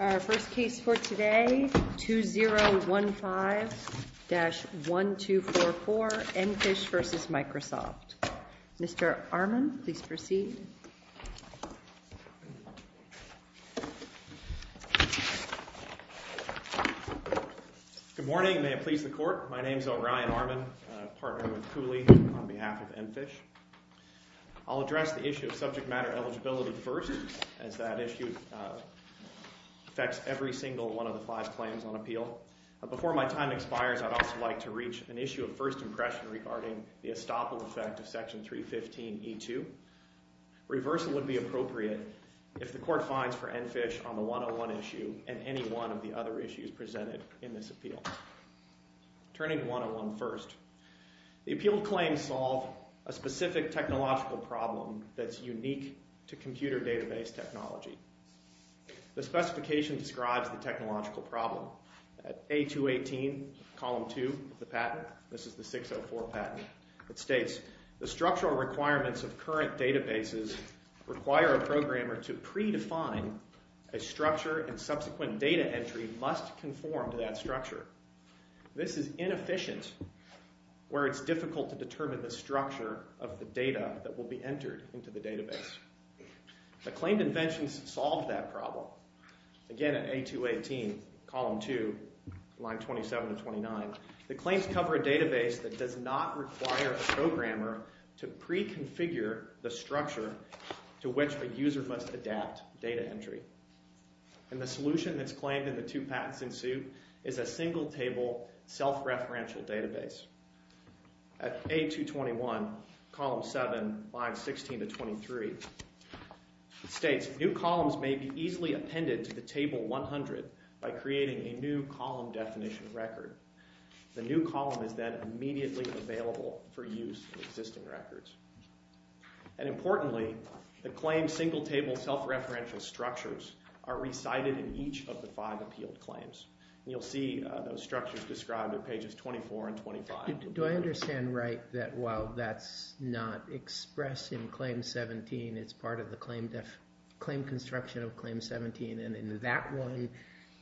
Our first case for today, 2015-1244 Enfish v. Microsoft. Mr. Armon, please proceed. Good morning, may it please the court. My name is Orion Armon, partner with Cooley on behalf of Enfish. I'll address the issue of subject matter eligibility first, as that issue affects every single one of the five claims on appeal. Before my time expires, I'd also like to reach an issue of first impression regarding the estoppel effect of Section 315e2. Reversal would be appropriate if the court finds for Enfish on the 101 issue and any one of the other issues presented in this appeal. Turning to 101 first, the appeal claims solve a specific technological problem that's unique to computer database technology. The specification describes the technological problem. At A218, column 2 of the patent, this is the 604 patent, it states, the structural requirements of current databases require a programmer to predefine a structure and subsequent data entry must conform to that structure. This is inefficient where it's difficult to determine the structure of the data that will be entered into the database. The claimed inventions solve that problem. Again, at A218, column 2, line 27 to 29, the claims cover a database that does not require a programmer to preconfigure the structure to which a user must adapt data entry. And the solution that's claimed in the two patents in suit is a single table self-referential database. At A221, column 7, lines 16 to 23, it states, new columns may be easily appended to the table 100 by creating a new column definition record. The new column is then immediately available for use in existing records. And importantly, the claimed single table self-referential structures are recited in each of the five appealed claims. You'll see those structures described at pages 24 and 25. Do I understand right that while that's not expressed in claim 17, it's part of the claim construction of claim 17, and in that one,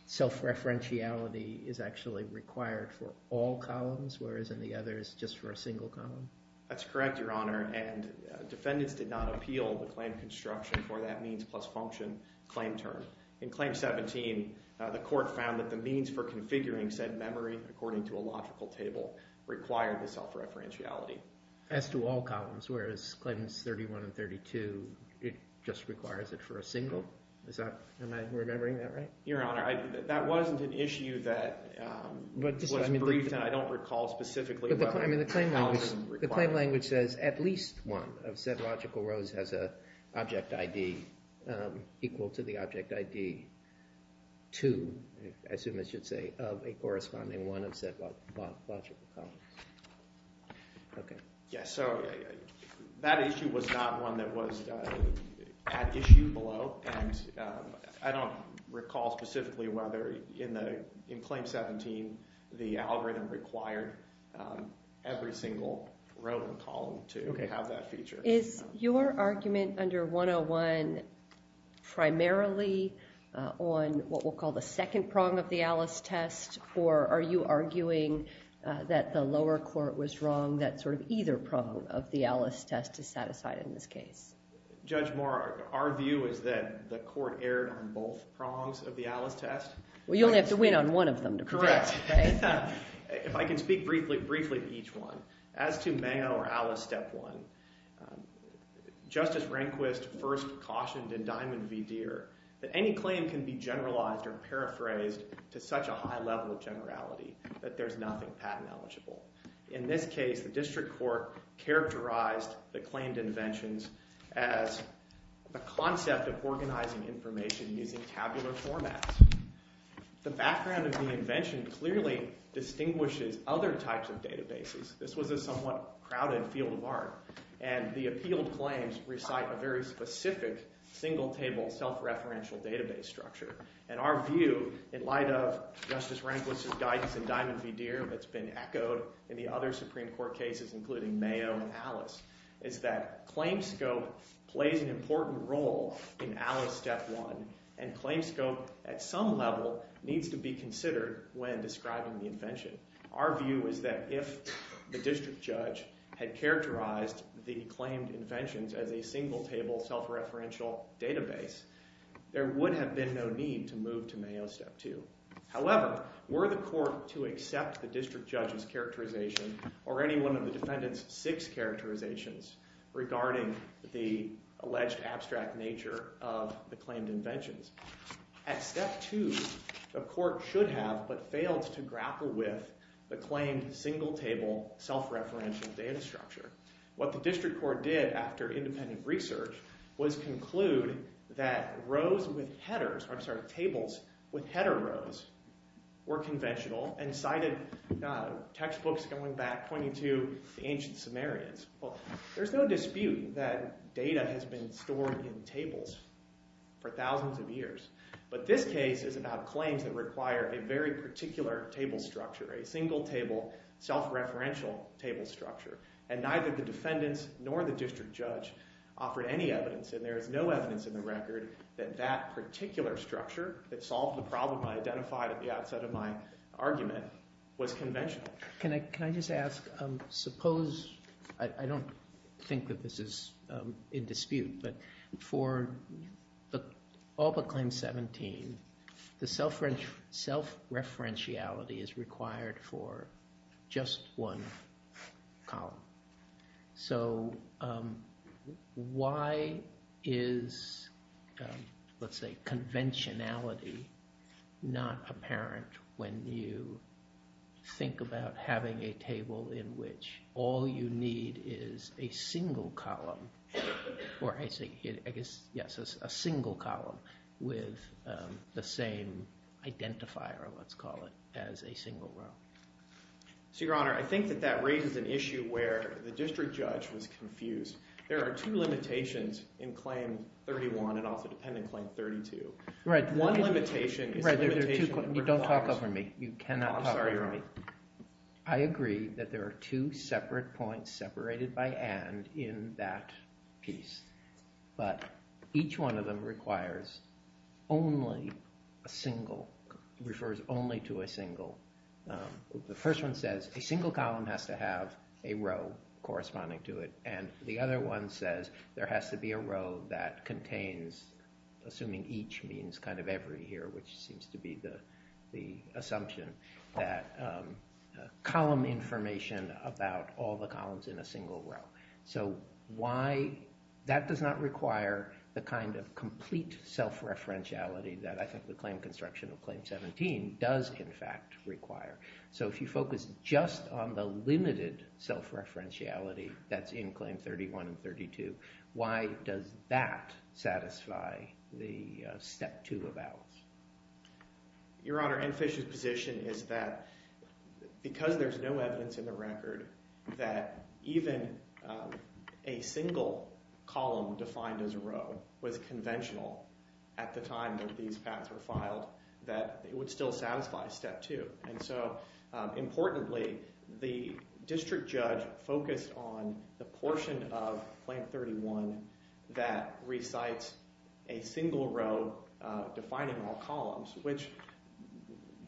self-referentiality is actually required for all columns, whereas in the others, just for a single column? That's correct, Your Honor, and defendants did not appeal the claim construction for that means plus function claim term. In claim 17, the court found that the means for configuring said memory according to a logical table required the self-referentiality. So as to all columns, whereas claims 31 and 32, it just requires it for a single? Am I remembering that right? Your Honor, that wasn't an issue that was briefed, and I don't recall specifically how it was required. The claim language says at least one of said logical rows has an object ID equal to the object ID 2, I assume I should say, of a corresponding one of said logical columns. Yes, so that issue was not one that was at issue below, and I don't recall specifically whether in claim 17 the algorithm required every single row and column to have that feature. Is your argument under 101 primarily on what we'll call the second prong of the Alice test, or are you arguing that the lower court was wrong, that sort of either prong of the Alice test is satisfied in this case? Judge Moore, our view is that the court erred on both prongs of the Alice test. Well, you only have to win on one of them to protect, right? If I can speak briefly to each one. As to Mayo or Alice step one, Justice Rehnquist first cautioned in Diamond v. Deere that any claim can be generalized or paraphrased to such a high level of generality that there's nothing patent eligible. In this case, the district court characterized the claimed inventions as the concept of organizing information using tabular formats. The background of the invention clearly distinguishes other types of databases. This was a somewhat crowded field of art, and the appealed claims recite a very specific single-table self-referential database structure. And our view in light of Justice Rehnquist's guidance in Diamond v. Deere that's been echoed in the other Supreme Court cases, including Mayo and Alice, is that claim scope plays an important role in Alice step one. And claim scope at some level needs to be considered when describing the invention. Our view is that if the district judge had characterized the claimed inventions as a single-table self-referential database, there would have been no need to move to Mayo step two. However, were the court to accept the district judge's characterization or any one of the defendant's six characterizations regarding the alleged abstract nature of the claimed inventions, at step two, the court should have but failed to grapple with the claimed single-table self-referential data structure. What the district court did after independent research was conclude that rows with headers – I'm sorry, tables with header rows were conventional and cited textbooks going back 22 to the ancient Sumerians. Well, there's no dispute that data has been stored in tables for thousands of years. But this case is about claims that require a very particular table structure, a single-table self-referential table structure. And neither the defendants nor the district judge offered any evidence, and there is no evidence in the record that that particular structure that solved the problem I identified at the outset of my argument was conventional. Can I just ask, suppose – I don't think that this is in dispute, but for all but claim 17, the self-referentiality is required for just one column. So why is, let's say, conventionality not apparent when you think about having a table in which all you need is a single column – or I guess, yes, a single column with the same identifier, let's call it, as a single row? So, Your Honor, I think that that raises an issue where the district judge was confused. There are two limitations in claim 31 and also dependent claim 32. Right. One limitation is the limitation that requires – Don't talk over me. You cannot talk over me. I'm sorry, Your Honor. The first one says a single column has to have a row corresponding to it, and the other one says there has to be a row that contains, assuming each means kind of every here, which seems to be the assumption, that column information about all the columns in a single row. So why – that does not require the kind of complete self-referentiality that I think the claim construction of claim 17 does, in fact, require. So if you focus just on the limited self-referentiality that's in claim 31 and 32, why does that satisfy the step two of Alice? Your Honor, Anne Fish's position is that because there's no evidence in the record that even a single column defined as a row was conventional at the time that these patents were filed, that it would still satisfy step two. And so importantly, the district judge focused on the portion of claim 31 that recites a single row defining all columns, which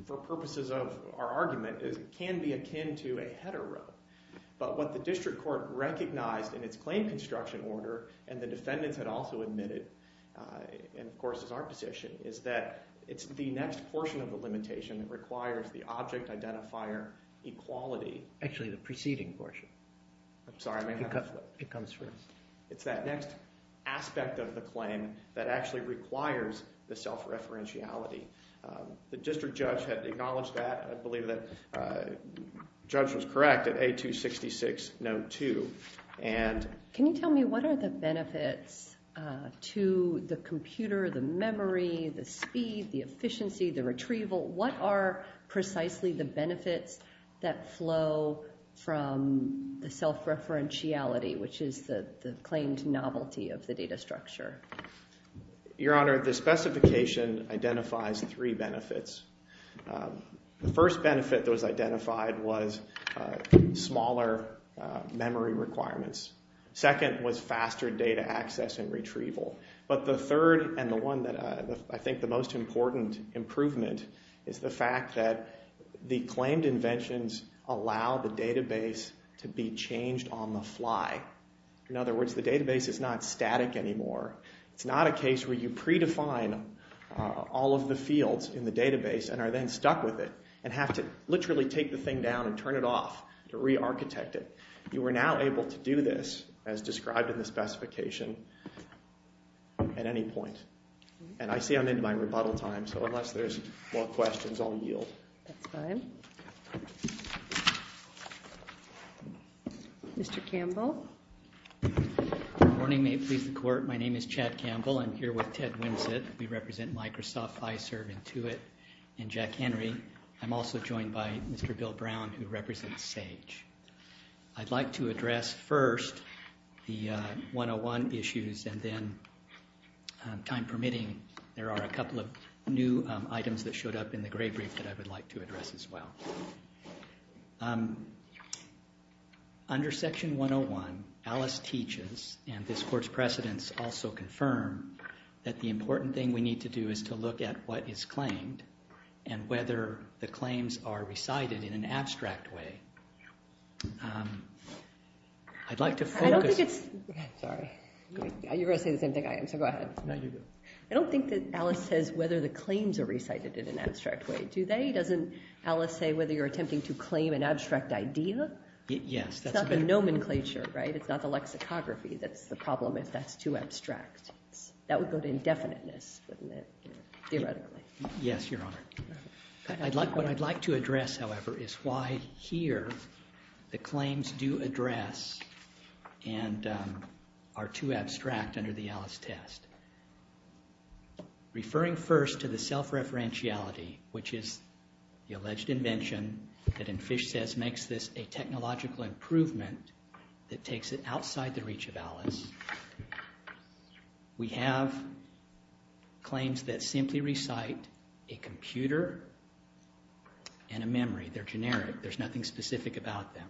for purposes of our argument can be akin to a header row. But what the district court recognized in its claim construction order, and the defendants had also admitted, and of course is our position, is that it's the next portion of the limitation that requires the object identifier equality. Actually, the preceding portion. I'm sorry. It comes first. It's that next aspect of the claim that actually requires the self-referentiality. The district judge had acknowledged that. I believe that the judge was correct at A266, note two. Can you tell me what are the benefits to the computer, the memory, the speed, the efficiency, the retrieval? What are precisely the benefits that flow from the self-referentiality, which is the claimed novelty of the data structure? Your Honor, the specification identifies three benefits. The first benefit that was identified was smaller memory requirements. Second was faster data access and retrieval. But the third and the one that I think the most important improvement is the fact that the claimed inventions allow the database to be changed on the fly. In other words, the database is not static anymore. It's not a case where you predefine all of the fields in the database and are then stuck with it and have to literally take the thing down and turn it off to re-architect it. You are now able to do this as described in the specification at any point. And I see I'm in my rebuttal time, so unless there's more questions, I'll yield. That's fine. Mr. Campbell? Good morning. If I may please the Court, my name is Chad Campbell. I'm here with Ted Winsett. We represent Microsoft, I serve Intuit, and Jack Henry. I'm also joined by Mr. Bill Brown, who represents SAGE. I'd like to address first the 101 issues and then, time permitting, there are a couple of new items that showed up in the grade brief that I would like to address as well. Under Section 101, Alice teaches, and this Court's precedents also confirm, that the important thing we need to do is to look at what is claimed and whether the claims are recited in an abstract way. I'd like to focus... I don't think it's... Sorry. You're going to say the same thing I am, so go ahead. No, you go. I don't think that Alice says whether the claims are recited in an abstract way. Do they? Doesn't Alice say whether you're attempting to claim an abstract idea? Yes. It's not the nomenclature, right? It's not the lexicography that's the problem if that's too abstract. That would go to indefiniteness, wouldn't it, theoretically? Yes, Your Honor. What I'd like to address, however, is why here the claims do address and are too abstract under the Alice test. Referring first to the self-referentiality, which is the alleged invention that, in Fish says, makes this a technological improvement that takes it outside the reach of Alice, we have claims that simply recite a computer and a memory. They're generic. There's nothing specific about them.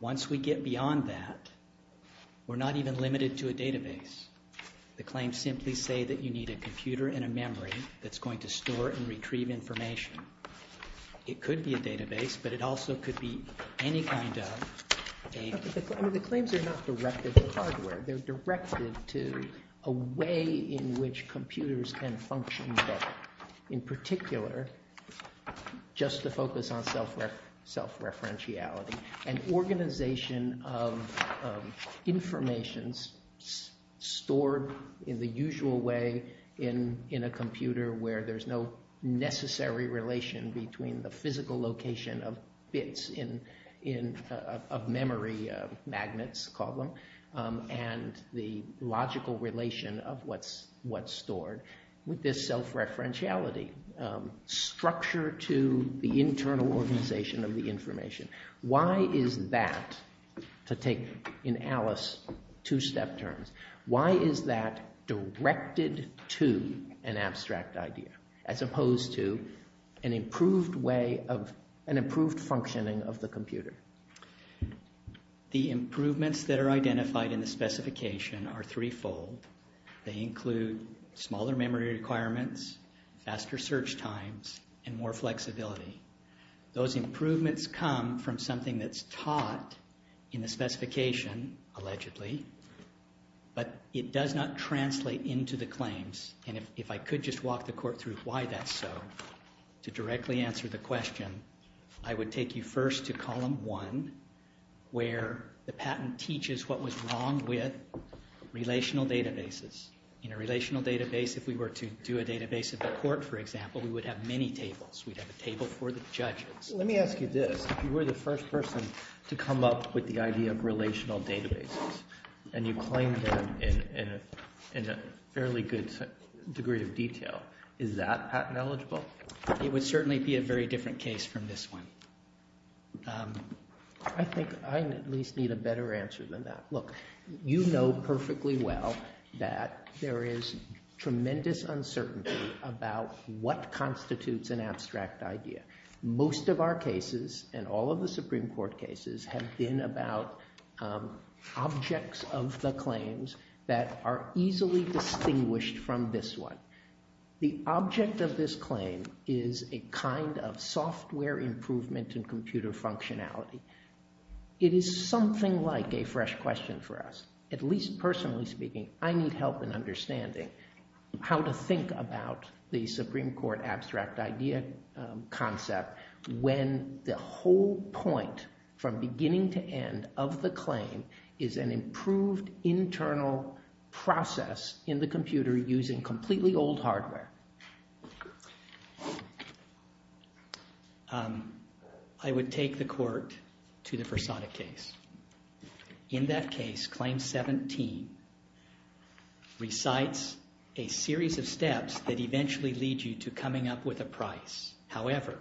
Once we get beyond that, we're not even limited to a database. The claims simply say that you need a computer and a memory that's going to store and retrieve information. It could be a database, but it also could be any kind of a... The claims are not directed to hardware. They're directed to a way in which computers can function better, in particular just to focus on self-referentiality. An organization of information stored in the usual way in a computer where there's no necessary relation between the physical location of bits of memory, magnets, call them, and the logical relation of what's stored with this self-referentiality structure to the internal organization of the information. Why is that, to take in Alice two-step terms, why is that directed to an abstract idea as opposed to an improved functioning of the computer? The improvements that are identified in the specification are threefold. They include smaller memory requirements, faster search times, and more flexibility. Those improvements come from something that's taught in the specification, allegedly, but it does not translate into the claims. If I could just walk the court through why that's so, to directly answer the question, I would take you first to column one, where the patent teaches what was wrong with relational databases. In a relational database, if we were to do a database of the court, for example, we would have many tables. We'd have a table for the judges. Let me ask you this. If you were the first person to come up with the idea of relational databases, and you claimed them in a fairly good degree of detail, is that patent eligible? It would certainly be a very different case from this one. I think I at least need a better answer than that. Look, you know perfectly well that there is tremendous uncertainty about what constitutes an abstract idea. Most of our cases, and all of the Supreme Court cases, have been about objects of the claims that are easily distinguished from this one. The object of this claim is a kind of software improvement in computer functionality. It is something like a fresh question for us. At least personally speaking, I need help in understanding how to think about the Supreme Court abstract idea concept when the whole point from beginning to end of the claim is an improved internal process in the computer using completely old hardware. I would take the court to the Versada case. In that case, Claim 17 recites a series of steps that eventually lead you to coming up with a price. However,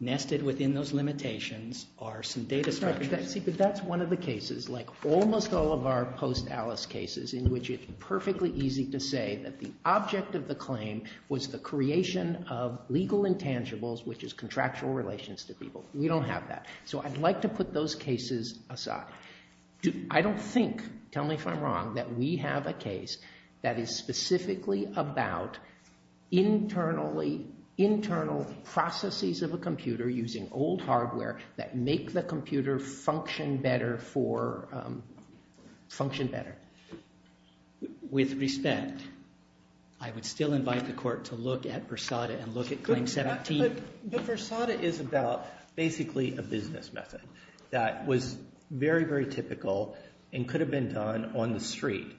nested within those limitations are some data structures. See, but that's one of the cases, like almost all of our post-Alice cases, in which it's perfectly easy to say that the object of the claim was the creation of legal intangibles, which is contractual relations to people. We don't have that. So I'd like to put those cases aside. I don't think, tell me if I'm wrong, that we have a case that is specifically about internal processes of a computer using old hardware that make the computer function better. With respect, I would still invite the court to look at Versada and look at Claim 17. But Versada is about basically a business method that was very, very typical and could have been done on the street.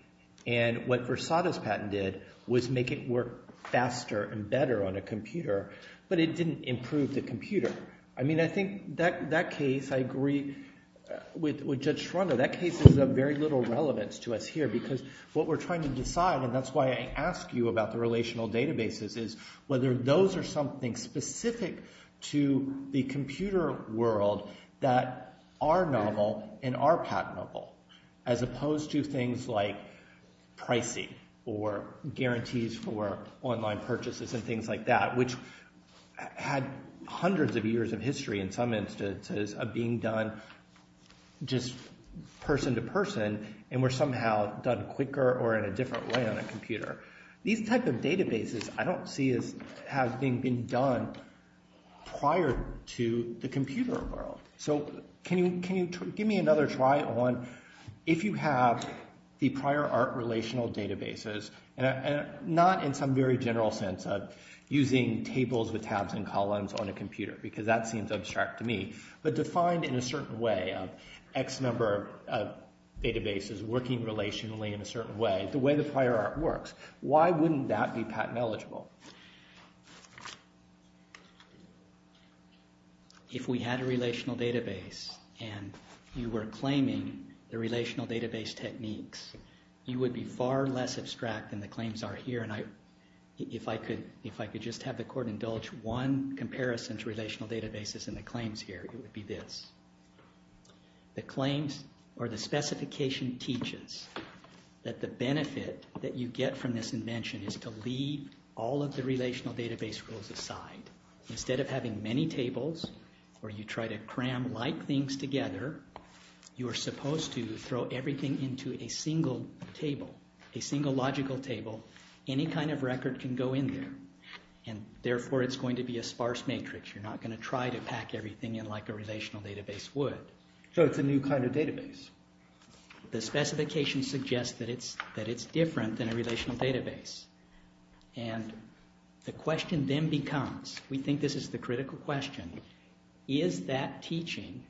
And what Versada's patent did was make it work faster and better on a computer, but it didn't improve the computer. I mean, I think that case, I agree with Judge Schronder. That case is of very little relevance to us here because what we're trying to decide, and that's why I ask you about the relational databases, is whether those are something specific to the computer world that are novel and are patentable, as opposed to things like pricing or guarantees for online purchases and things like that, which had hundreds of years of history in some instances of being done just person to person and were somehow done quicker or in a different way on a computer. These type of databases I don't see as having been done prior to the computer world. So can you give me another try on if you have the prior art relational databases, and not in some very general sense of using tables with tabs and columns on a computer, because that seems abstract to me, but defined in a certain way of X number of databases working relationally in a certain way, the way the prior art works. Why wouldn't that be patent eligible? If we had a relational database and you were claiming the relational database techniques, you would be far less abstract than the claims are here. And if I could just have the court indulge one comparison to relational databases and the claims here, it would be this. The claims or the specification teaches that the benefit that you get from this invention is to leave all of the relational database rules aside. Instead of having many tables where you try to cram like things together, you are supposed to throw everything into a single table, a single logical table. Any kind of record can go in there, and therefore it's going to be a sparse matrix. You're not going to try to pack everything in like a relational database would. So it's a new kind of database. The specification suggests that it's different than a relational database. And the question then becomes—we think this is the critical question—is that teaching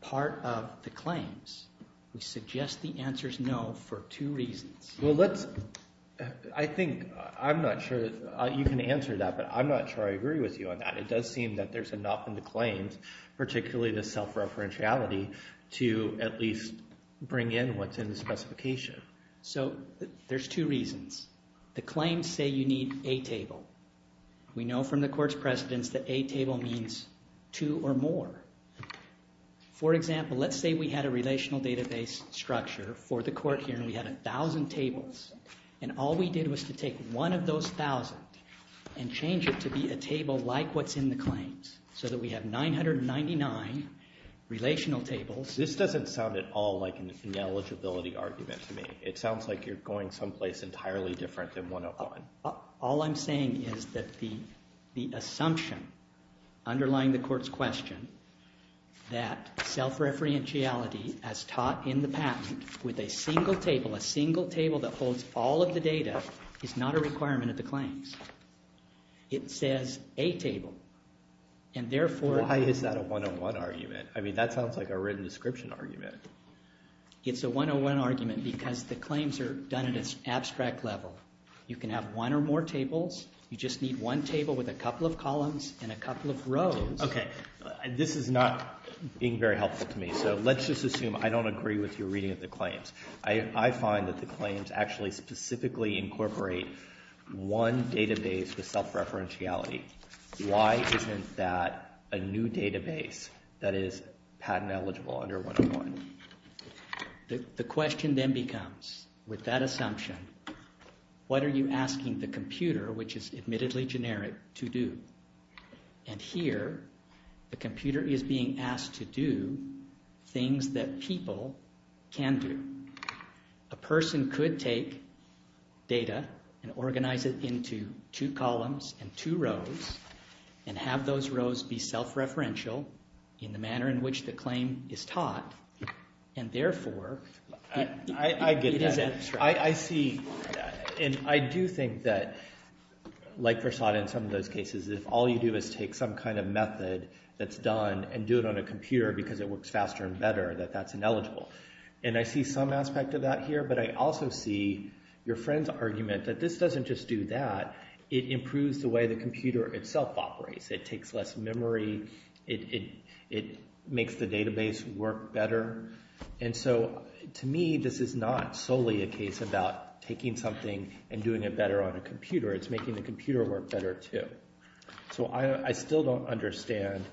part of the claims? We suggest the answer is no for two reasons. Well, let's—I think I'm not sure you can answer that, but I'm not sure I agree with you on that. It does seem that there's enough in the claims, particularly the self-referentiality, to at least bring in what's in the specification. So there's two reasons. The claims say you need a table. We know from the court's precedence that a table means two or more. For example, let's say we had a relational database structure for the court here, and we had 1,000 tables. And all we did was to take one of those 1,000 and change it to be a table like what's in the claims, so that we have 999 relational tables. This doesn't sound at all like an eligibility argument to me. It sounds like you're going someplace entirely different than 101. All I'm saying is that the assumption underlying the court's question that self-referentiality, as taught in the patent, with a single table, a single table that holds all of the data, is not a requirement of the claims. It says a table, and therefore— Why is that a 101 argument? I mean, that sounds like a written description argument. It's a 101 argument because the claims are done at an abstract level. You can have one or more tables. You just need one table with a couple of columns and a couple of rows. Okay. This is not being very helpful to me, so let's just assume I don't agree with your reading of the claims. I find that the claims actually specifically incorporate one database with self-referentiality. Why isn't that a new database that is patent eligible under 101? The question then becomes, with that assumption, what are you asking the computer, which is admittedly generic, to do? And here the computer is being asked to do things that people can do. A person could take data and organize it into two columns and two rows and have those rows be self-referential in the manner in which the claim is taught, and therefore— I get that. It is abstract. I see that. And I do think that, like Versad in some of those cases, if all you do is take some kind of method that's done and do it on a computer because it works faster and better, that that's ineligible. And I see some aspect of that here, but I also see your friend's argument that this doesn't just do that. It improves the way the computer itself operates. It takes less memory. It makes the database work better. And so, to me, this is not solely a case about taking something and doing it better on a computer. It's making the computer work better too. So I still don't understand,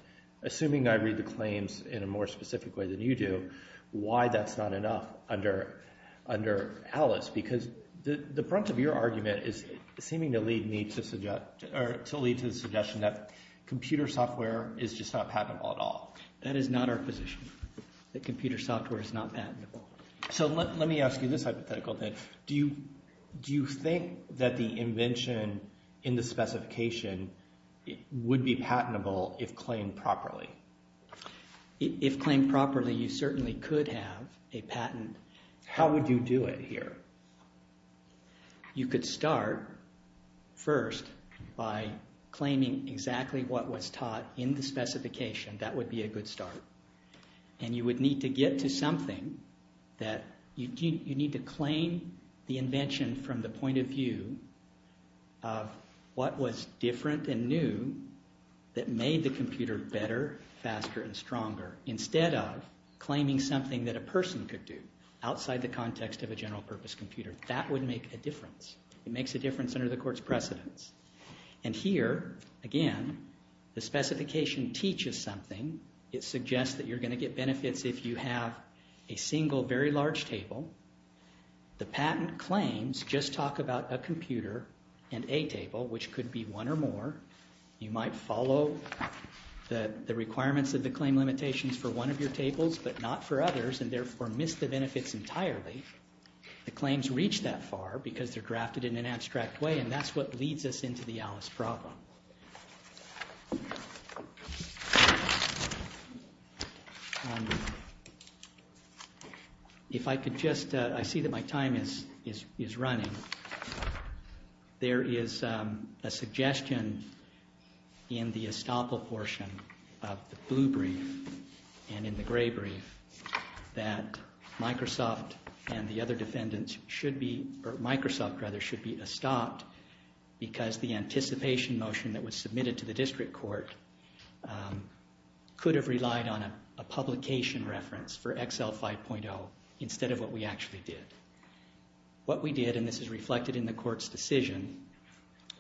assuming I read the claims in a more specific way than you do, why that's not enough under Alice because the brunt of your argument is seeming to lead me to suggest—or to lead to the suggestion that computer software is just not patentable at all. That is not our position, that computer software is not patentable. So let me ask you this hypothetical then. Do you think that the invention in the specification would be patentable if claimed properly? If claimed properly, you certainly could have a patent. How would you do it here? You could start first by claiming exactly what was taught in the specification. That would be a good start. And you would need to get to something that you need to claim the invention from the point of view of what was different and new that made the computer better, faster, and stronger. Instead of claiming something that a person could do outside the context of a general purpose computer. That would make a difference. It makes a difference under the court's precedence. And here, again, the specification teaches something. It suggests that you're going to get benefits if you have a single very large table. The patent claims just talk about a computer and a table, which could be one or more. You might follow the requirements of the claim limitations for one of your tables, but not for others, and therefore miss the benefits entirely. The claims reach that far because they're drafted in an abstract way, and that's what leads us into the Alice problem. If I could just, I see that my time is running. There is a suggestion in the estoppel portion of the blue brief and in the gray brief that Microsoft and the other defendants should be, or Microsoft rather, should be estopped because the anticipation motion that was submitted to the district court could have relied on a publication reference for Excel 5.0 instead of what we actually did. What we did, and this is reflected in the court's decision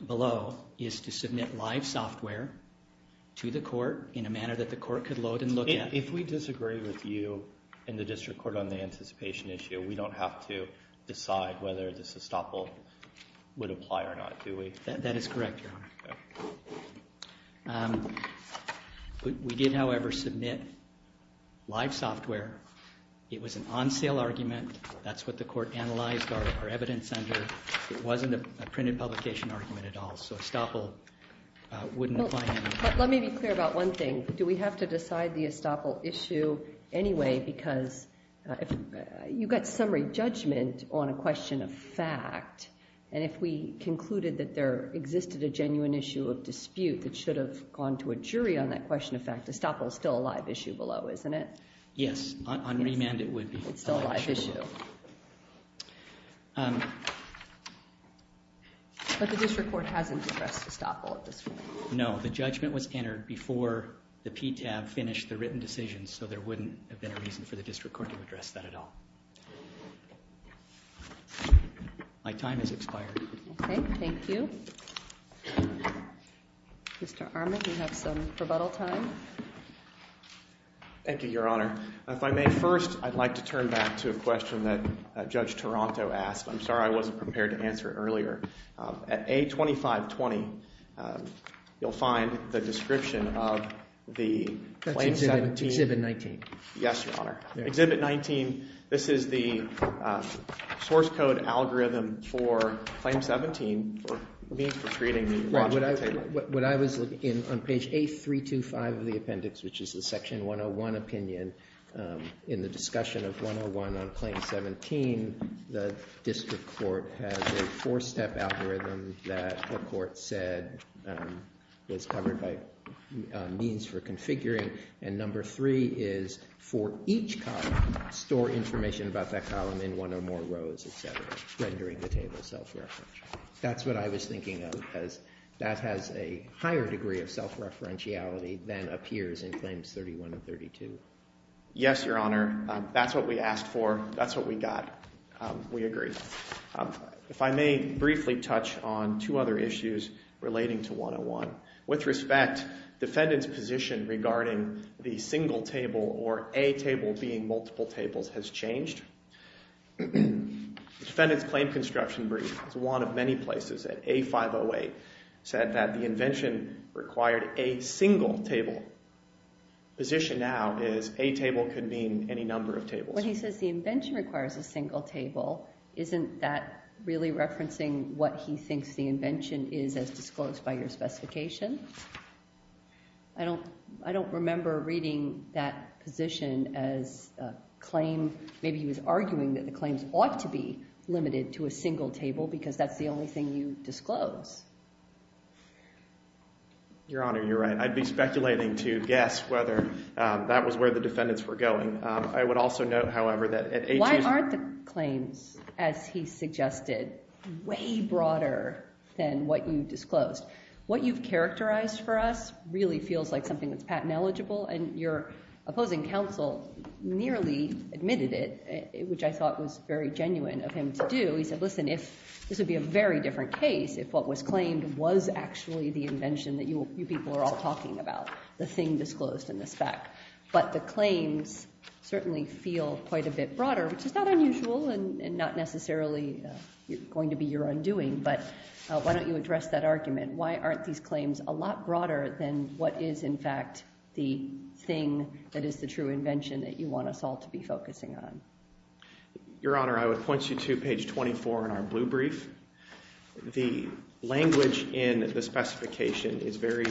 below, is to submit live software to the court in a manner that the court could load and look at. If we disagree with you and the district court on the anticipation issue, we don't have to decide whether this estoppel would apply or not, do we? That is correct, Your Honor. We did, however, submit live software. It was an on-sale argument. That's what the court analyzed our evidence under. It wasn't a printed publication argument at all, so estoppel wouldn't apply. Let me be clear about one thing. Do we have to decide the estoppel issue anyway because you got summary judgment on a question of fact, and if we concluded that there existed a genuine issue of dispute that should have gone to a jury on that question of fact, estoppel is still a live issue below, isn't it? Yes, on remand it would be. It's still a live issue. But the district court hasn't addressed estoppel at this point. No, the judgment was entered before the PTAB finished the written decision, so there wouldn't have been a reason for the district court to address that at all. My time has expired. Okay, thank you. Mr. Armand, you have some rebuttal time. Thank you, Your Honor. If I may first, I'd like to turn back to a question that Judge Taranto asked. I'm sorry I wasn't prepared to answer earlier. At A2520, you'll find the description of the Claim 17. That's Exhibit 19. Yes, Your Honor. Exhibit 19, this is the source code algorithm for Claim 17 for means for creating the logic table. On page A325 of the appendix, which is the Section 101 opinion, in the discussion of 101 on Claim 17, the district court has a four-step algorithm that the court said was covered by means for configuring. And number three is for each column, store information about that column in one or more rows, et cetera, rendering the table self-referential. That's what I was thinking of, because that has a higher degree of self-referentiality than appears in Claims 31 and 32. Yes, Your Honor. That's what we asked for. That's what we got. We agree. If I may briefly touch on two other issues relating to 101. With respect, defendant's position regarding the single table or A table being multiple tables has changed. The defendant's claim construction brief is one of many places that A508 said that the invention required a single table. The position now is A table could mean any number of tables. When he says the invention requires a single table, isn't that really referencing what he thinks the invention is as disclosed by your specification? I don't remember reading that position as a claim. Maybe he was arguing that the claims ought to be limited to a single table because that's the only thing you disclose. Your Honor, you're right. I'd be speculating to guess whether that was where the defendants were going. I would also note, however, that at A table— Why aren't the claims, as he suggested, way broader than what you disclosed? What you've characterized for us really feels like something that's patent eligible, and your opposing counsel nearly admitted it, which I thought was very genuine of him to do. He said, listen, this would be a very different case if what was claimed was actually the invention that you people are all talking about, the thing disclosed in the spec. But the claims certainly feel quite a bit broader, which is not unusual and not necessarily going to be your undoing. But why don't you address that argument? Why aren't these claims a lot broader than what is, in fact, the thing that is the true invention that you want us all to be focusing on? Your Honor, I would point you to page 24 in our blue brief. The language in the specification is very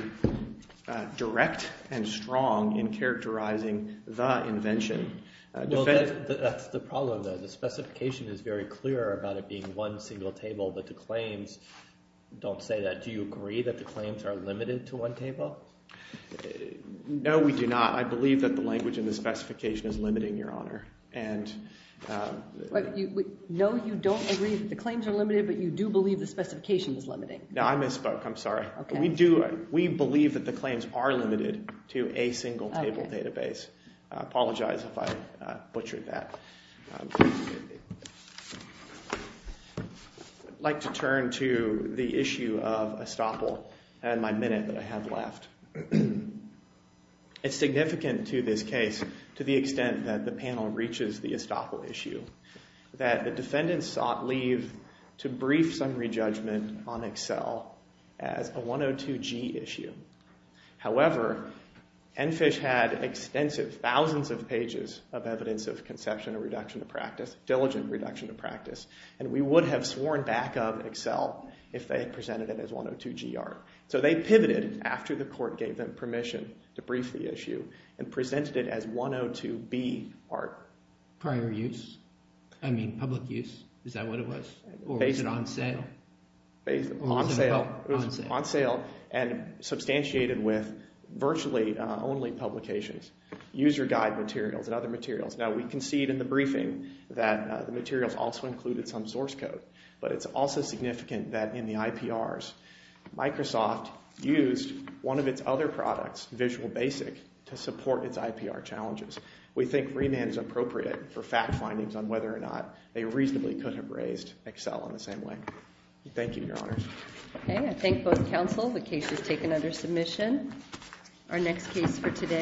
direct and strong in characterizing the invention. That's the problem, though. The specification is very clear about it being one single table, but the claims don't say that. Do you agree that the claims are limited to one table? No, we do not. I believe that the language in the specification is limiting, Your Honor. No, you don't agree that the claims are limited, but you do believe the specification is limiting. No, I misspoke. I'm sorry. We believe that the claims are limited to a single table database. I apologize if I butchered that. I'd like to turn to the issue of estoppel and my minute that I have left. It's significant to this case to the extent that the panel reaches the estoppel issue that the defendants sought leave to brief summary judgment on Excel as a 102G issue. However, ENFISH had extensive, thousands of pages of evidence of conception and diligent reduction of practice, and we would have sworn back on Excel if they had presented it as 102G art. So they pivoted after the court gave them permission to brief the issue and presented it as 102B art. Prior use? I mean, public use? Is that what it was? Or was it on sale? On sale. It was on sale and substantiated with virtually only publications, user guide materials and other materials. Now, we concede in the briefing that the materials also included some source code, but it's also significant that in the IPRs, Microsoft used one of its other products, Visual Basic, to support its IPR challenges. We think remand is appropriate for fact findings on whether or not they reasonably could have raised Excel in the same way. Thank you, Your Honors. Okay. I thank both counsel. The case is taken under submission. Our next case for today.